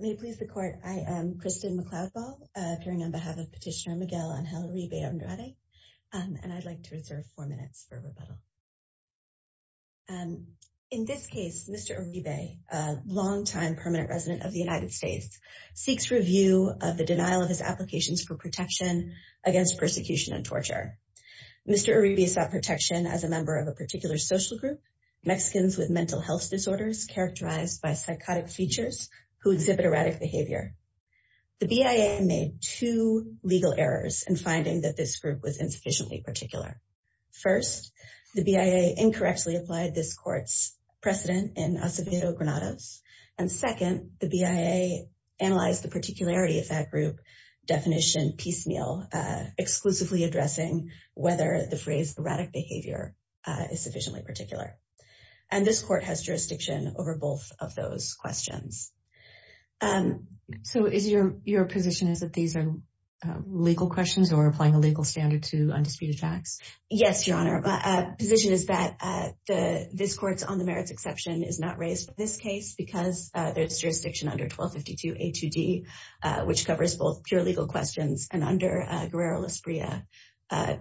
May it please the Court, I am Kristen McCloudball, appearing on behalf of Petitioner Miguel Angel Uribe Andrade, and I'd like to reserve four minutes for rebuttal. In this case, Mr. Uribe, a long-time permanent resident of the United States, seeks review of the denial of his applications for protection against persecution and torture. Mr. Uribe sought protection as a member of a particular social group, Mexicans with mental health disorders characterized by psychotic features who exhibit erratic behavior. The BIA made two legal errors in finding that this group was insufficiently particular. First, the BIA incorrectly applied this court's precedent in Acevedo-Granados. And second, the BIA analyzed the particularity of that group definition piecemeal, exclusively addressing whether the phrase erratic behavior is sufficiently particular. And this court has jurisdiction over both of those questions. So is your, your position is that these are legal questions or applying a legal standard to undisputed facts? Yes, Your Honor, my position is that the, this court's on the merits exception is not raised in this case because there's jurisdiction under 1252 A2D, which covers both pure legal questions and under Guerrero-Lasprilla,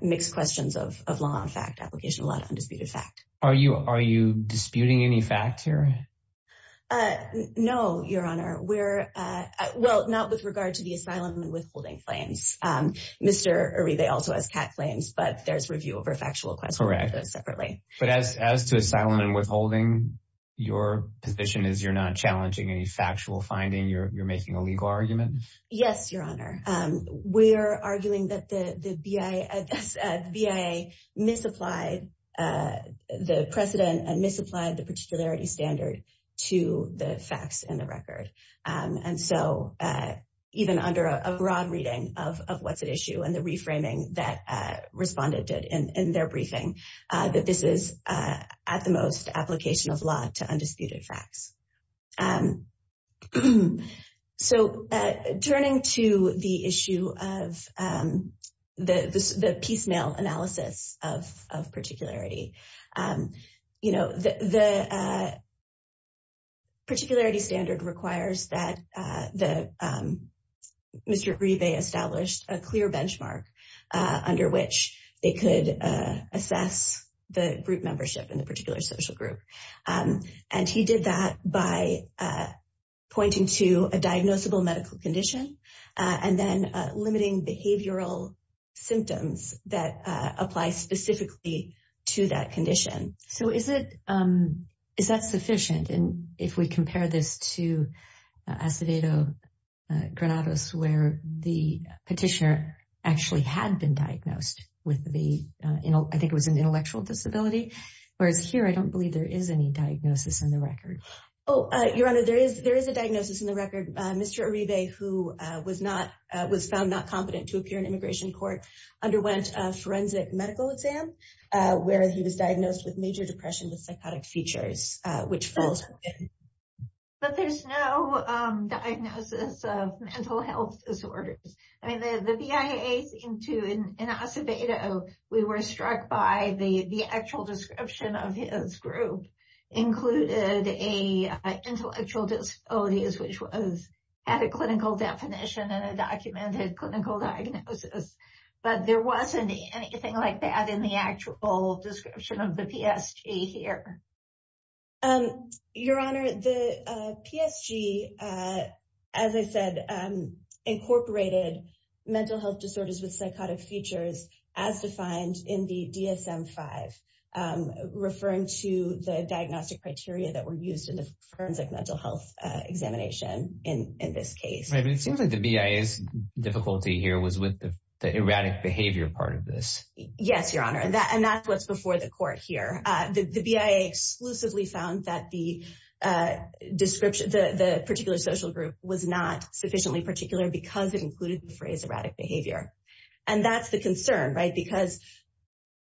mixed questions of law and fact application, a lot of undisputed fact. Are you, are you disputing any fact here? Uh, no, Your Honor, we're, uh, well, not with regard to the asylum and withholding claims. Um, Mr. Uribe also has cat claims, but there's review over factual questions separately. But as, as to asylum and withholding, your position is you're not challenging any factual finding, you're, you're making a legal argument? Yes, Your Honor. We're arguing that the, the BIA, BIA misapplied, uh, the precedent and misapplied the particularity standard to the facts and the record. And so, uh, even under a broad reading of, of what's at issue and the reframing that, uh, respondent did in, in their briefing, uh, that this is, uh, at the most application of law to undisputed facts. Um, so, uh, turning to the issue of, um, the, the piecemeal analysis of, of particularity, um, you know, the, the, uh, particularity standard requires that, uh, the, um, Mr. Uribe established a clear benchmark, uh, under which they could, uh, assess the group membership in the particular social group. Um, and he did that by, uh, pointing to a diagnosable medical condition, uh, and then, uh, limiting behavioral symptoms that, uh, apply specifically to that condition. So is it, um, is that sufficient? And if we compare this to, uh, Acevedo Granados, where the petitioner actually had been diagnosed with the, uh, you know, I think it was an intellectual disability, whereas here, I don't believe there is any diagnosis in the record. Oh, uh, Your Honor, there is, there is a diagnosis in the record. Uh, Mr. Uribe, who, uh, was not, uh, was found not competent to appear in immigration court, underwent a forensic medical exam, uh, where he was diagnosed with major depression with psychotic features, uh, which falls within. But there's no, um, diagnosis of mental health disorders. I mean, the, the BIAs into, in Acevedo, we were struck by the, the actual description of his group included a, uh, intellectual disabilities, which was, had a clinical definition and a documented clinical diagnosis. But there wasn't anything like that in the actual description of the PSG here. Um, Your Honor, the, uh, PSG, uh, as I said, um, incorporated mental health disorders with DSM-5, um, referring to the diagnostic criteria that were used in the forensic mental health, uh, examination in, in this case. Right, but it seems like the BIA's difficulty here was with the, the erratic behavior part of this. Yes, Your Honor, that, and that's what's before the court here. Uh, the, the BIA exclusively found that the, uh, description, the, the particular social group was not sufficiently particular because it included the phrase erratic behavior. And that's the concern, right? Because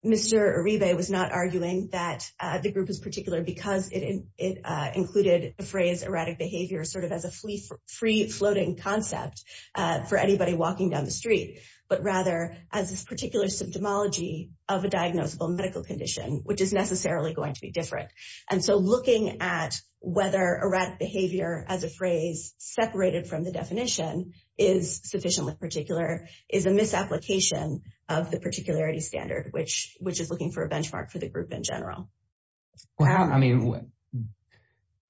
Mr. Uribe was not arguing that, uh, the group is particular because it, it, uh, included the phrase erratic behavior sort of as a free, free floating concept, uh, for anybody walking down the street, but rather as this particular symptomology of a diagnosable medical condition, which is necessarily going to be different. And so looking at whether erratic behavior as a phrase separated from the definition is sufficiently particular is a misapplication of the particularity standard, which, which is looking for a benchmark for the group in general. Well, how, I mean,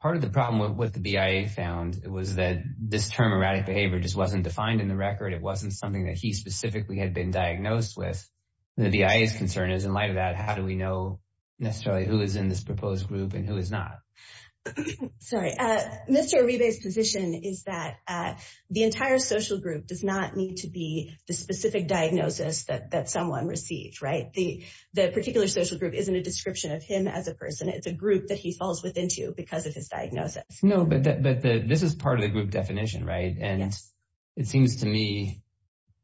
part of the problem with what the BIA found was that this term erratic behavior just wasn't defined in the record. It wasn't something that he specifically had been diagnosed with. The BIA's concern is in light of that, how do we know necessarily who is in this proposed group and who is not? Sorry, uh, Mr. Uribe's position is that, uh, the entire social group does not need to be the specific diagnosis that, that someone received, right? The, the particular social group isn't a description of him as a person. It's a group that he falls within to because of his diagnosis. No, but, but the, this is part of the group definition, right? And it seems to me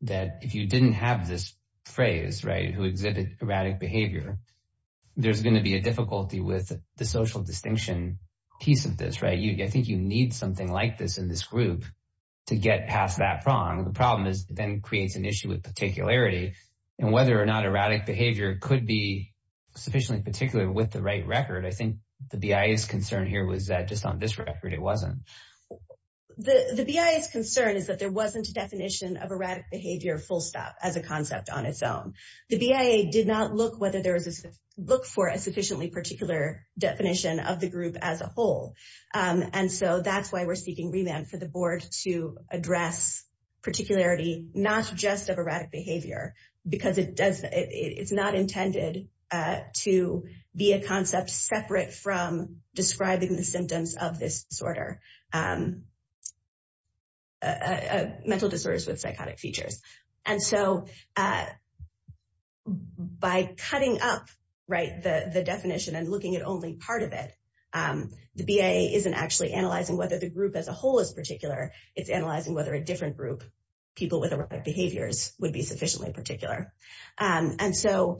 that if you didn't have this phrase, right, who exhibit erratic behavior, there's going to be a difficulty with the social distinction piece of this, right? I think you need something like this in this group to get past that prong. The problem is then creates an issue with particularity and whether or not erratic behavior could be sufficiently particular with the right record. I think the BIA's concern here was that just on this record, it wasn't. The BIA's concern is that there wasn't a definition of erratic behavior full stop as a concept on its own. The BIA did not look whether there was, look for a sufficiently particular definition of the group as a whole. And so that's why we're seeking remand for the board to address particularity, not just of erratic behavior, because it does, it's not intended to be a concept separate from describing the symptoms of this disorder, um, uh, mental disorders with psychotic features. And so, uh, by cutting up, right, the, the definition and looking at only part of it, um, the BIA isn't actually analyzing whether the group as a whole is particular, it's analyzing whether a different group, people with erratic behaviors would be sufficiently particular. Um, and so,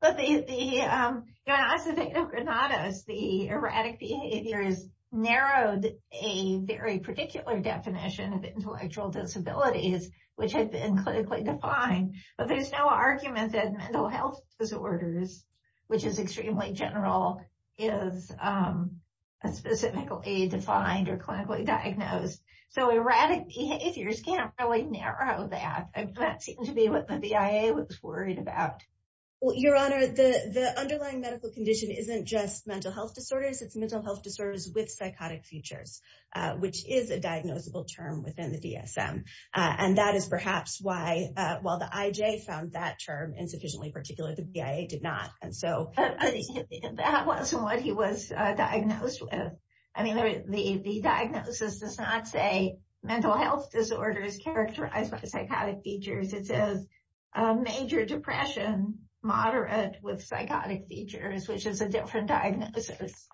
but the, the, um, the erratic behaviors narrowed a very particular definition of intellectual disabilities, which had been clinically defined. But there's no argument that mental health disorders, which is extremely general, is, um, specifically defined or clinically diagnosed. So erratic behaviors can't really narrow that. That seemed to be what the BIA was worried about. Well, your honor, the, the underlying medical condition isn't just mental health disorders, it's mental health disorders with psychotic features, uh, which is a diagnosable term within the DSM. Uh, and that is perhaps why, uh, while the IJ found that term insufficiently particular, the BIA did not. And so, that wasn't what he was, uh, diagnosed with. I mean, the, the diagnosis does not say mental health disorders characterized by psychotic features. It says, uh, major depression, moderate with psychotic features, which is a different diagnosis.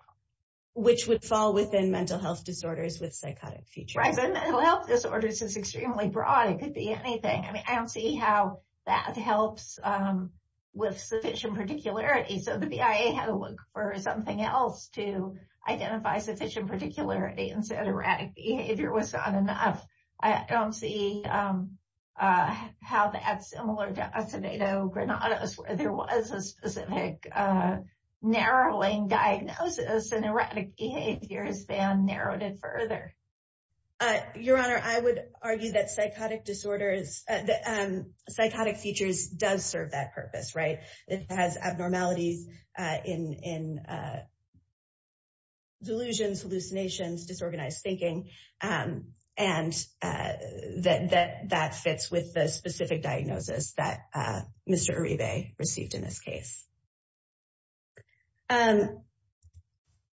Which would fall within mental health disorders with psychotic features. Right, so mental health disorders is extremely broad. It could be anything. I mean, I don't see how that helps, um, with sufficient particularity. So, the BIA had to look for something else to identify sufficient particularity, and said erratic behavior was not enough. I don't see, um, uh, how that's similar to acetatogranados, where there was a specific, uh, narrowing diagnosis, and erratic behavior has been narrowed it further. Uh, Your Honor, I would argue that psychotic disorders, uh, that, um, psychotic features does serve that purpose, right? It has abnormalities, uh, in, in, uh, delusions, hallucinations, disorganized thinking. Um, and, uh, that, that, that fits with the specific diagnosis that, uh, Mr. Uribe received in this case. Um,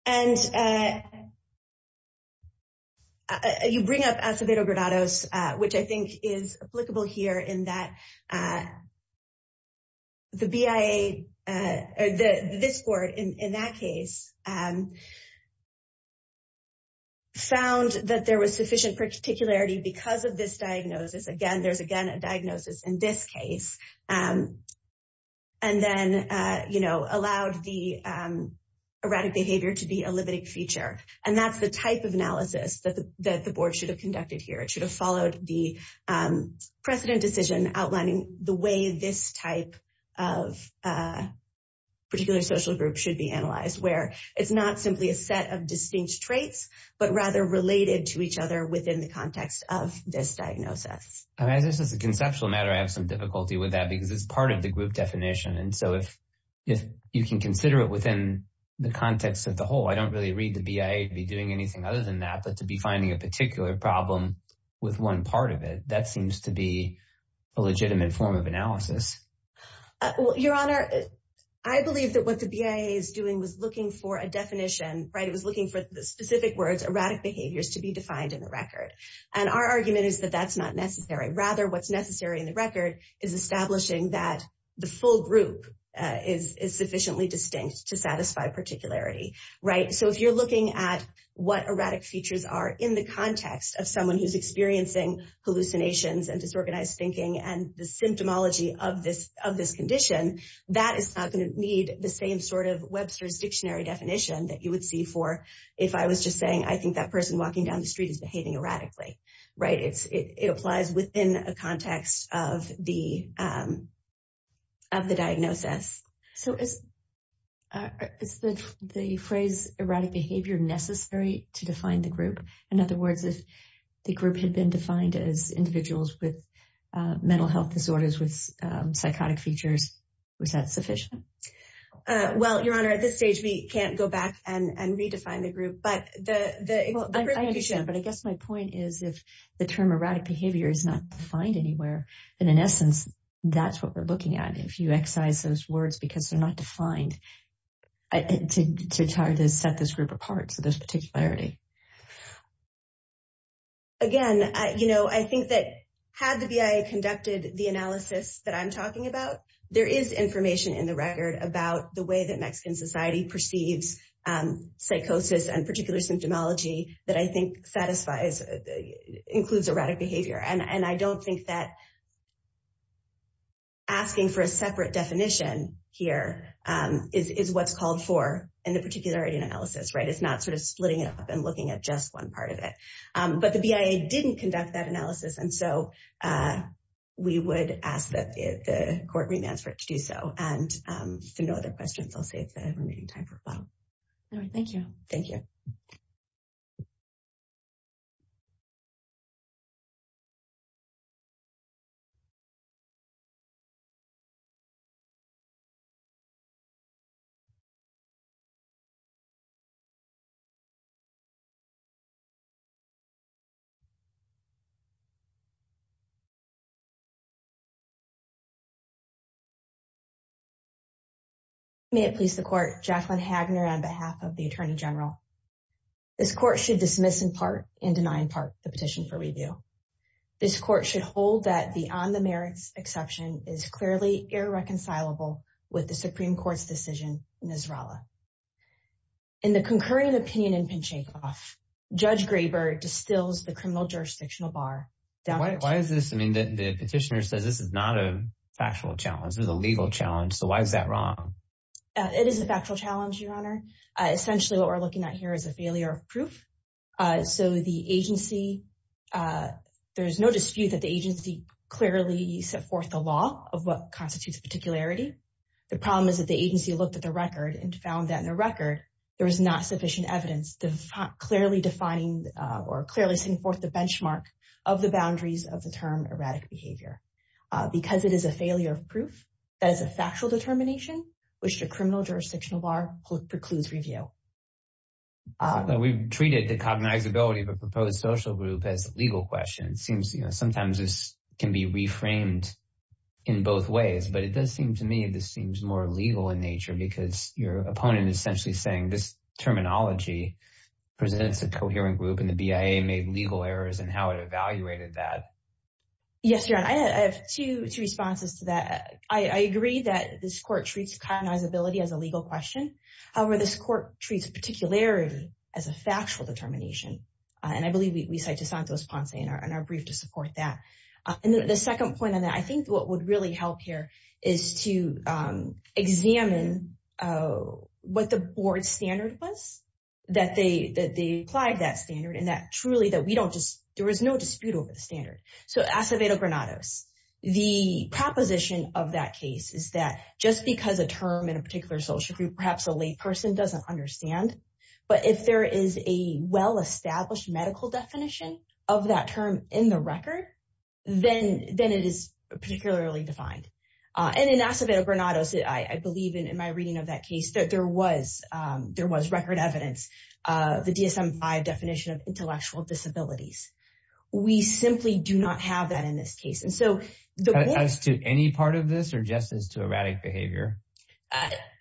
and, uh, uh, you bring up acetatogranados, uh, which I think is applicable here in that, uh, the BIA, uh, this court in, in that case, um, found that there was sufficient particularity because of this diagnosis. Again, there's again a diagnosis in this case. Um, and then, uh, you know, allowed the, um, erratic behavior to be a limiting feature. And that's the type of analysis that the, that the board should have conducted here. It should have followed the, um, precedent decision outlining the way this type of, uh, particular social group should be analyzed, where it's not simply a set of distinct traits, but rather related to each other within the context of this diagnosis. And as this is a conceptual matter, I have some difficulty with that because it's part of the group definition. And so if, if you can consider it within the context of the whole, I don't really read the BIA to be doing anything other than that, but to be finding a particular problem with one part of it, that seems to be a legitimate form of analysis. Well, Your Honor, I believe that what the BIA is doing was looking for a definition, right? It was looking for the specific words, erratic behaviors to be defined in the record. And our argument is that that's not necessary. Rather, what's necessary in the record is establishing that the full group, uh, is, is sufficiently distinct to satisfy particularity, right? So if you're looking at what erratic features are in the context of someone who's experiencing hallucinations and disorganized thinking and the symptomology of this, of this condition, that is not going to need the same sort of Webster's dictionary definition that you would if I was just saying, I think that person walking down the street is behaving erratically, right? It's, it, it applies within a context of the, um, of the diagnosis. So is, uh, is the, the phrase erratic behavior necessary to define the group? In other words, if the group had been defined as individuals with, uh, mental health disorders with, um, psychotic features, was that sufficient? Uh, well, your honor, at this stage, we can't go back and, and redefine the group, but the, the, well, I understand, but I guess my point is if the term erratic behavior is not defined anywhere, then in essence, that's what we're looking at. If you excise those words, because they're not defined to try to set this group apart. So there's particularity. Again, I, you know, I think that had the BIA conducted the analysis that I'm talking about, there is information in the record about the way that Mexican society perceives, um, psychosis and particular symptomology that I think satisfies, includes erratic behavior. And, and I don't think that asking for a separate definition here, um, is, is what's called for in the particularity analysis, right? It's not sort of splitting it up and looking at just one part of it. Um, but the BIA didn't conduct that analysis. And so, uh, we would ask that the court remands for it to do so. And, um, so no other questions. I'll save the remaining time for a while. All right. Thank you. Thank you. May it please the court, Jacqueline Hagner on behalf of the attorney general. This court should dismiss in part and deny in part the petition for review. This court should hold that the on the merits exception is clearly irreconcilable with the Supreme court's decision in Nasrallah. In the concurrent opinion in Pinchakoff, Judge Graber distills the criminal jurisdictional bar Why is this? I mean, the petitioner says this is not a factual challenge. It was a legal challenge. So why is that wrong? It is a factual challenge, your honor. Essentially what we're looking at here is a failure of proof. So the agency, uh, there's no dispute that the agency clearly set forth the law of what constitutes particularity. The problem is that the agency looked at the record and found that in the record, there was not sufficient evidence. Clearly defining, uh, or clearly setting forth the benchmark of the boundaries of the term erratic behavior, uh, because it is a failure of proof. That is a factual determination, which the criminal jurisdictional bar precludes review. We've treated the cognizability of a proposed social group as legal questions. Seems, you know, sometimes this can be reframed in both ways, but it does seem to me, this presents a coherent group and the BIA made legal errors in how it evaluated that. Yes, your honor. I have two responses to that. I agree that this court treats cognizability as a legal question. However, this court treats particularity as a factual determination. And I believe we cite to Santos Ponce in our brief to support that. And the second point on that, I think what would really help here is to, um, examine, uh, what the board standard was that they, that they applied that standard. And that truly that we don't just, there was no dispute over the standard. So Acevedo Granados, the proposition of that case is that just because a term in a particular social group, perhaps a late person doesn't understand, but if there is a well-established medical definition of that term in the record, then, then it is particularly defined. And in Acevedo Granados, I believe in my reading of that case that there was, there was record evidence, uh, the DSM-5 definition of intellectual disabilities. We simply do not have that in this case. And so as to any part of this or just as to erratic behavior,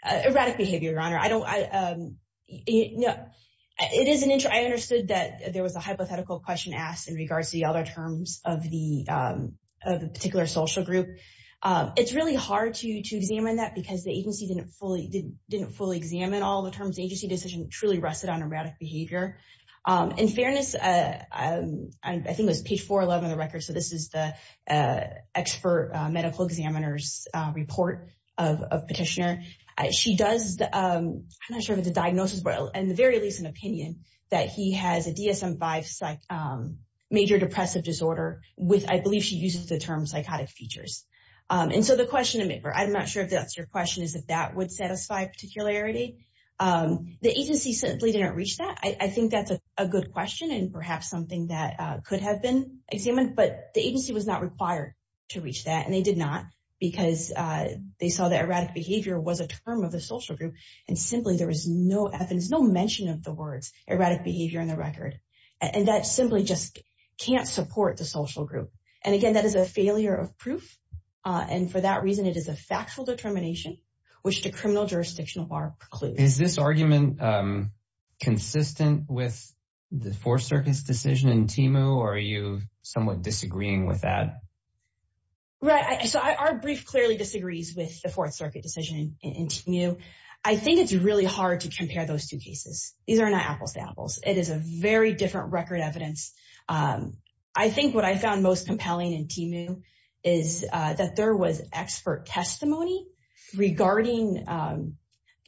erratic behavior, your honor, I don't, I, um, it is an interest. I understood that there was a hypothetical question asked in regards to the other terms of the, um, of the particular social group. It's really hard to, to examine that because the agency didn't fully, didn't, didn't fully examine all the terms. The agency decision truly rested on erratic behavior. In fairness, uh, I think it was page 411 of the record. So this is the, uh, expert medical examiner's, uh, report of, of petitioner. She does, um, I'm not sure if it's a diagnosis, but in the very least an opinion that he has a DSM-5 psych, um, major depressive disorder with, I believe she uses the term psychotic features. And so the question to make, or I'm not sure if that's your question is that that would satisfy particularity. Um, the agency simply didn't reach that. I think that's a good question and perhaps something that, uh, could have been examined, but the agency was not required to reach that. And they did not because, uh, they saw that erratic behavior was a term of the social group and simply there was no evidence, no mention of the words erratic behavior in the record. And that simply just can't support the social group. And again, that is a failure of proof. And for that reason, it is a factual determination, which the criminal jurisdictional bar concludes. Is this argument, um, consistent with the fourth circuit's decision in TEMU or are you somewhat disagreeing with that? Right. So our brief clearly disagrees with the fourth circuit decision in TEMU. I think it's really hard to compare those two cases. These are not apples to apples. It is a very different record evidence. Um, I think what I found most compelling in TEMU is, uh, that there was expert testimony regarding, um,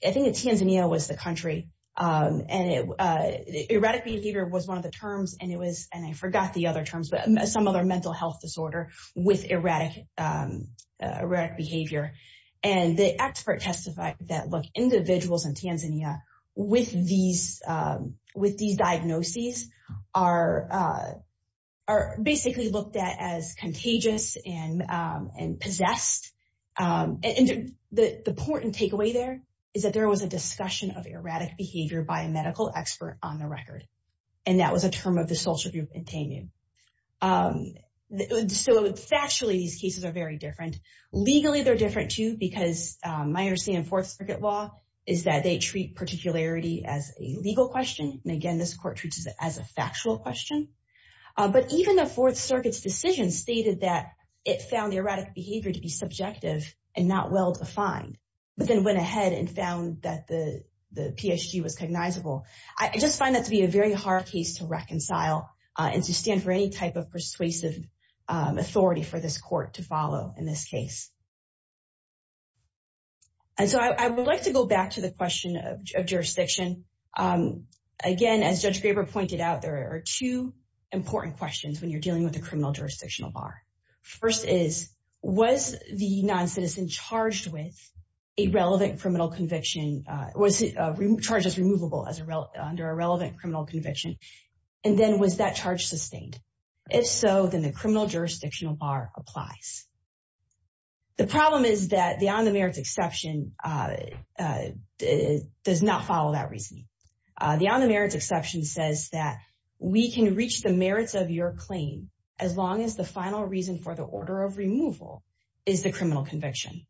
I think that Tanzania was the country, um, and it, uh, erratic behavior was one of the terms and it was, and I forgot the other terms, but some other mental health disorder with erratic, um, erratic behavior. And the expert testified that look individuals in Tanzania with these, um, with these diagnoses are, uh, are basically looked at as contagious and, um, and possessed. Um, and the important takeaway there is that there was a discussion of erratic behavior by a medical expert on the record. And that was a term of the social group in TEMU. Um, so factually, these cases are very different. Legally, they're different too, because, um, my understanding of fourth circuit law is that they treat particularity as a legal question. And again, this court treats it as a factual question. Uh, but even the fourth circuit's decision stated that it found the erratic behavior to be subjective and not well-defined, but then went ahead and found that the, the PSG was cognizable. I just find that to be a very hard case to reconcile, uh, and to stand for any type of case. And so I would like to go back to the question of jurisdiction. Um, again, as Judge Graber pointed out, there are two important questions when you're dealing with a criminal jurisdictional bar. First is, was the non-citizen charged with a relevant criminal conviction, uh, was, uh, charges removable as a, under a relevant criminal conviction? And then was that charge sustained? If so, then the criminal jurisdictional bar applies. The problem is that the on the merits exception, uh, uh, does not follow that reasoning. Uh, the on the merits exception says that we can reach the merits of your claim as long as the final reason for the order of removal is the criminal conviction.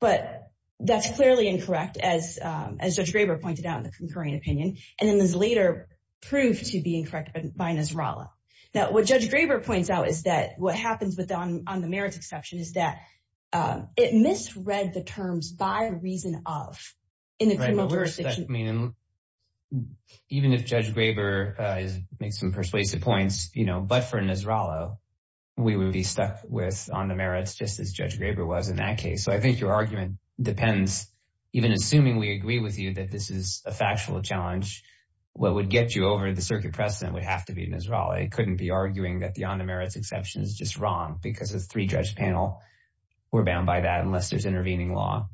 But that's clearly incorrect as, um, as Judge Graber pointed out in the concurring opinion. And then this later proved to be incorrect by Nasrallah. Now what Judge Graber points out is that what happens with the on the merits exception is that, um, it misread the terms by reason of in the criminal jurisdiction. I mean, even if Judge Graber, uh, makes some persuasive points, you know, but for Nasrallah, we would be stuck with on the merits just as Judge Graber was in that case. So I think your argument depends, even assuming we agree with you that this is a factual challenge, what would get you over the circuit precedent would have to be Nasrallah. I couldn't be arguing that the on the merits exception is just wrong because the three-judge panel were bound by that unless there's intervening law.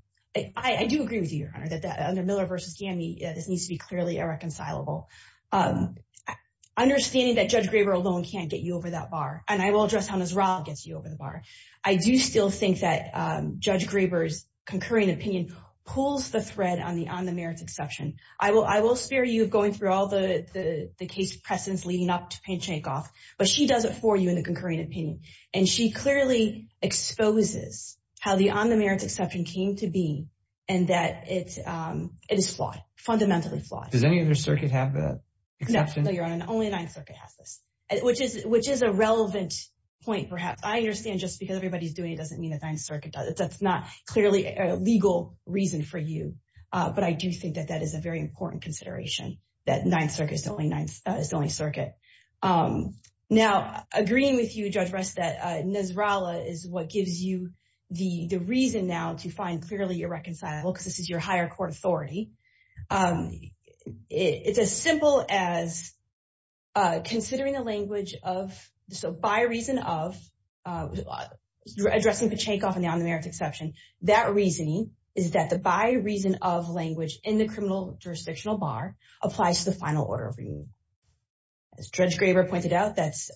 I do agree with you, Your Honor, that under Miller v. Ghani, this needs to be clearly irreconcilable. Um, understanding that Judge Graber alone can't get you over that bar, and I will address how Nasrallah gets you over the bar. I do still think that, um, Judge Graber's concurring opinion pulls the thread on the on the merits exception. I will spare you of going through all the case precedents leading up to Payne-Shankoff, but she does it for you in the concurring opinion. And she clearly exposes how the on the merits exception came to be and that it is flawed, fundamentally flawed. Does any other circuit have that exception? No, Your Honor, only the Ninth Circuit has this, which is a relevant point, perhaps. I understand just because everybody's doing it doesn't mean the Ninth Circuit does it. That's not clearly a legal reason for you. But I do think that that is a very important consideration, that Ninth Circuit is the only circuit. Now, agreeing with you, Judge Rest, that Nasrallah is what gives you the reason now to find clearly irreconcilable because this is your higher court authority. It's as simple as considering the language of, so by reason of, addressing Payne-Shankoff and the on the merits exception, that reasoning is that the by reason of language in the criminal jurisdictional bar applies to the final order of removal. As Judge Graber pointed out, that's,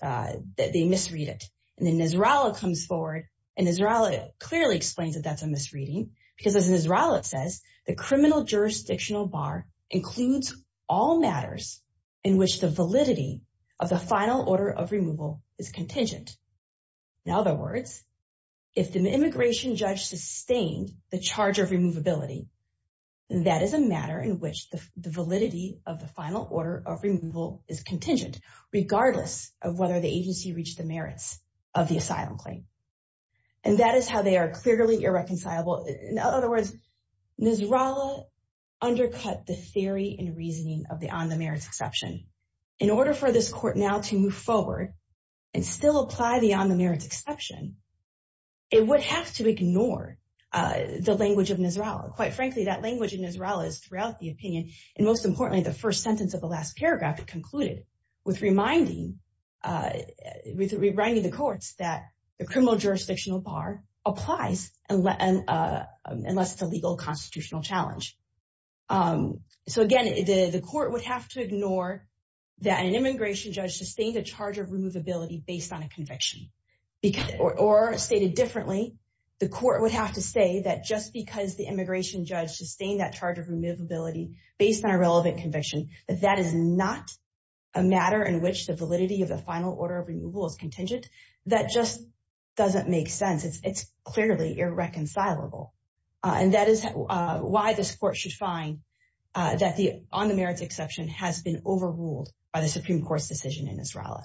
they misread it. And then Nasrallah comes forward and Nasrallah clearly explains that that's a misreading because as Nasrallah says, the criminal jurisdictional bar includes all matters in which the validity of the final order of removal is contingent. In other words, if the immigration judge sustained the charge of removability, that is a matter in which the validity of the final order of removal is contingent, regardless of whether the agency reached the merits of the asylum claim. And that is how they are clearly irreconcilable. In other words, Nasrallah undercut the theory and reasoning of the on the merits exception. In order for this court now to move forward and still apply the on the merits exception, it would have to ignore the language of Nasrallah. Quite frankly, that language in Nasrallah is throughout the opinion. And most importantly, the first sentence of the last paragraph, it concluded with reminding the courts that the criminal jurisdictional bar applies unless it's a legal constitutional challenge. Um, so again, the court would have to ignore that an immigration judge sustained a charge of removability based on a conviction or stated differently. The court would have to say that just because the immigration judge sustained that charge of removability based on a relevant conviction, that that is not a matter in which the validity of the final order of removal is contingent. That just doesn't make sense. It's clearly irreconcilable. And that is why this court should find that the on the merits exception has been overruled by the Supreme Court's decision in Nasrallah.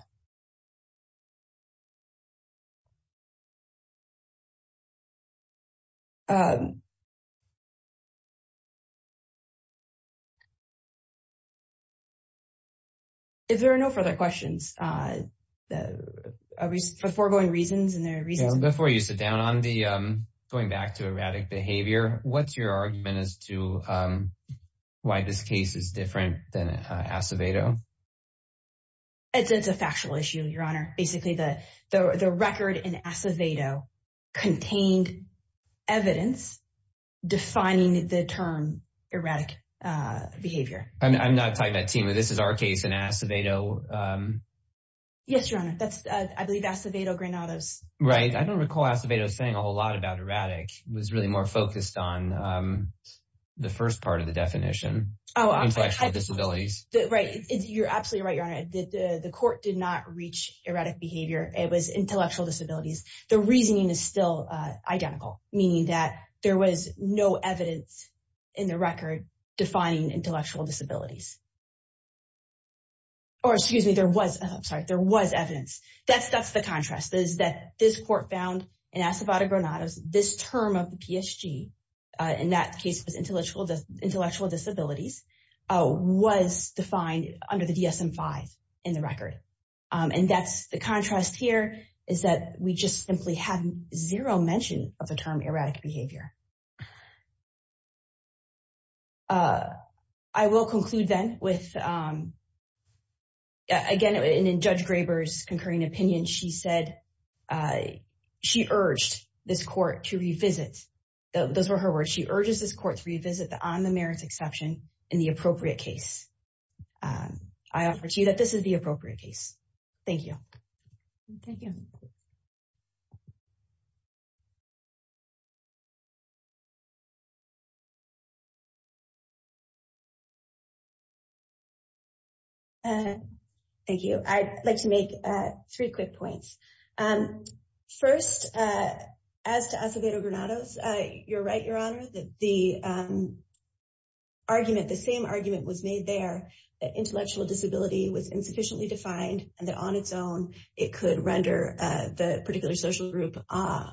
If there are no further questions, uh, uh, for foregoing reasons and their reasons before you sit down on the, um, going back to erratic behavior. What's your argument as to, um, why this case is different than Acevedo? It's, it's a factual issue, your honor. Basically the, the, the record in Acevedo contained evidence defining the term erratic, uh, behavior. I'm not talking about Tima. This is our case in Acevedo. Um, yes, your honor. That's, uh, I believe Acevedo Granados. Right. I don't recall Acevedo saying a whole lot about erratic was really more focused on, um, the first part of the definition. Oh, intellectual disabilities. Right. You're absolutely right. Your honor, the court did not reach erratic behavior. It was intellectual disabilities. The reasoning is still identical, meaning that there was no evidence in the record defining intellectual disabilities. Or excuse me, there was, I'm sorry, there was evidence. That's, that's the contrast. This court found in Acevedo Granados, this term of the PSG, uh, in that case, it was intellectual, intellectual disabilities, uh, was defined under the DSM-5 in the record. And that's the contrast here is that we just simply have zero mention of the term erratic behavior. Uh, I will conclude then with, um, again, in Judge Graber's concurring opinion, she said, uh, she urged this court to revisit. Those were her words. She urges this court to revisit the on the merits exception in the appropriate case. Um, I offer to you that this is the appropriate case. Thank you. Thank you. Uh, thank you. I'd like to make, uh, three quick points. Um, first, uh, as to Acevedo Granados, uh, you're right, Your Honor, that the, um, argument, the same argument was made there that intellectual disability was insufficiently it could render, uh, the particular social group, uh,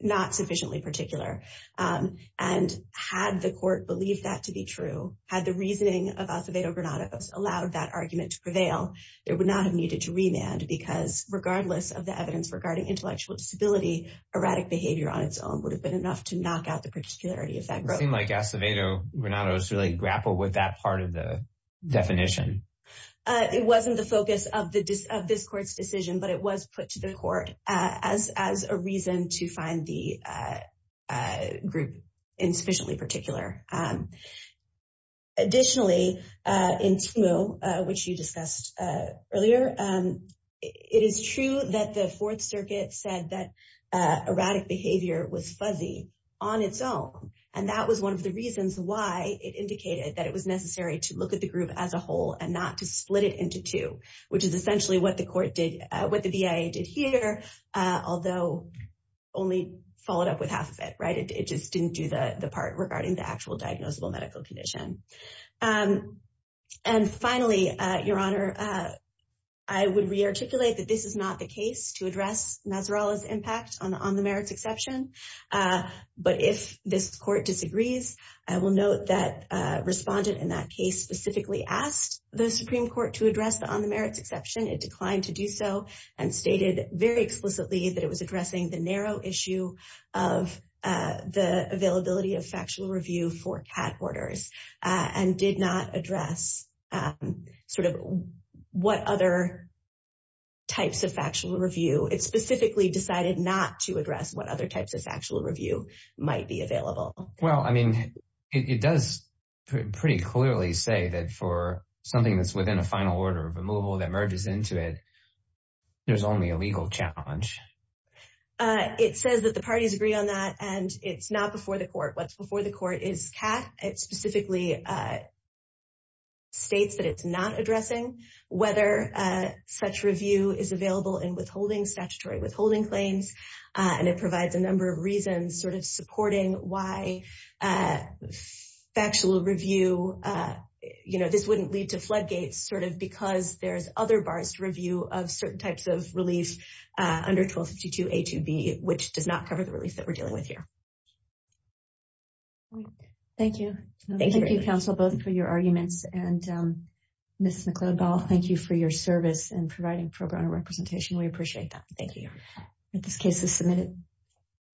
not sufficiently particular. Um, and had the court believed that to be true, had the reasoning of Acevedo Granados allowed that argument to prevail, there would not have needed to remand because regardless of the evidence regarding intellectual disability, erratic behavior on its own would have been enough to knock out the particularity of that group. It seemed like Acevedo Granados really grappled with that part of the definition. Uh, it wasn't the focus of the, of this court's decision, but it was put to the court, uh, as, as a reason to find the, uh, uh, group insufficiently particular. Um, additionally, uh, in Timu, uh, which you discussed, uh, earlier, um, it is true that the fourth circuit said that, uh, erratic behavior was fuzzy on its own. And that was one of the reasons why it indicated that it was necessary to look at the group as a and not to split it into two, which is essentially what the court did, uh, what the BIA did here. Uh, although only followed up with half of it, right? It just didn't do the part regarding the actual diagnosable medical condition. Um, and finally, uh, Your Honor, uh, I would rearticulate that this is not the case to address Nasrallah's impact on the, on the merits exception. Uh, but if this court disagrees, I will note that, uh, respondent in that case specifically asked the Supreme Court to address the, on the merits exception. It declined to do so and stated very explicitly that it was addressing the narrow issue of, uh, the availability of factual review for cat orders, uh, and did not address, um, sort of what other types of factual review. It specifically decided not to address what other types of factual review might be available. Well, I mean, it, it does pretty clearly say that for something that's within a final order of removal that merges into it, there's only a legal challenge. Uh, it says that the parties agree on that and it's not before the court. What's before the court is cat. It specifically, uh, states that it's not addressing whether, uh, such review is available in withholding statutory withholding claims. Uh, and it provides a number of reasons sort of supporting why, uh, factual review, uh, you know, this wouldn't lead to floodgates sort of because there's other bars to review of certain types of relief, uh, under 1252A2B, which does not cover the relief that we're dealing with here. Thank you. Thank you, counsel, both for your arguments and, um, Ms. McLeod-Ball, thank you for your service in providing program representation. We appreciate that. Thank you. This case is submitted.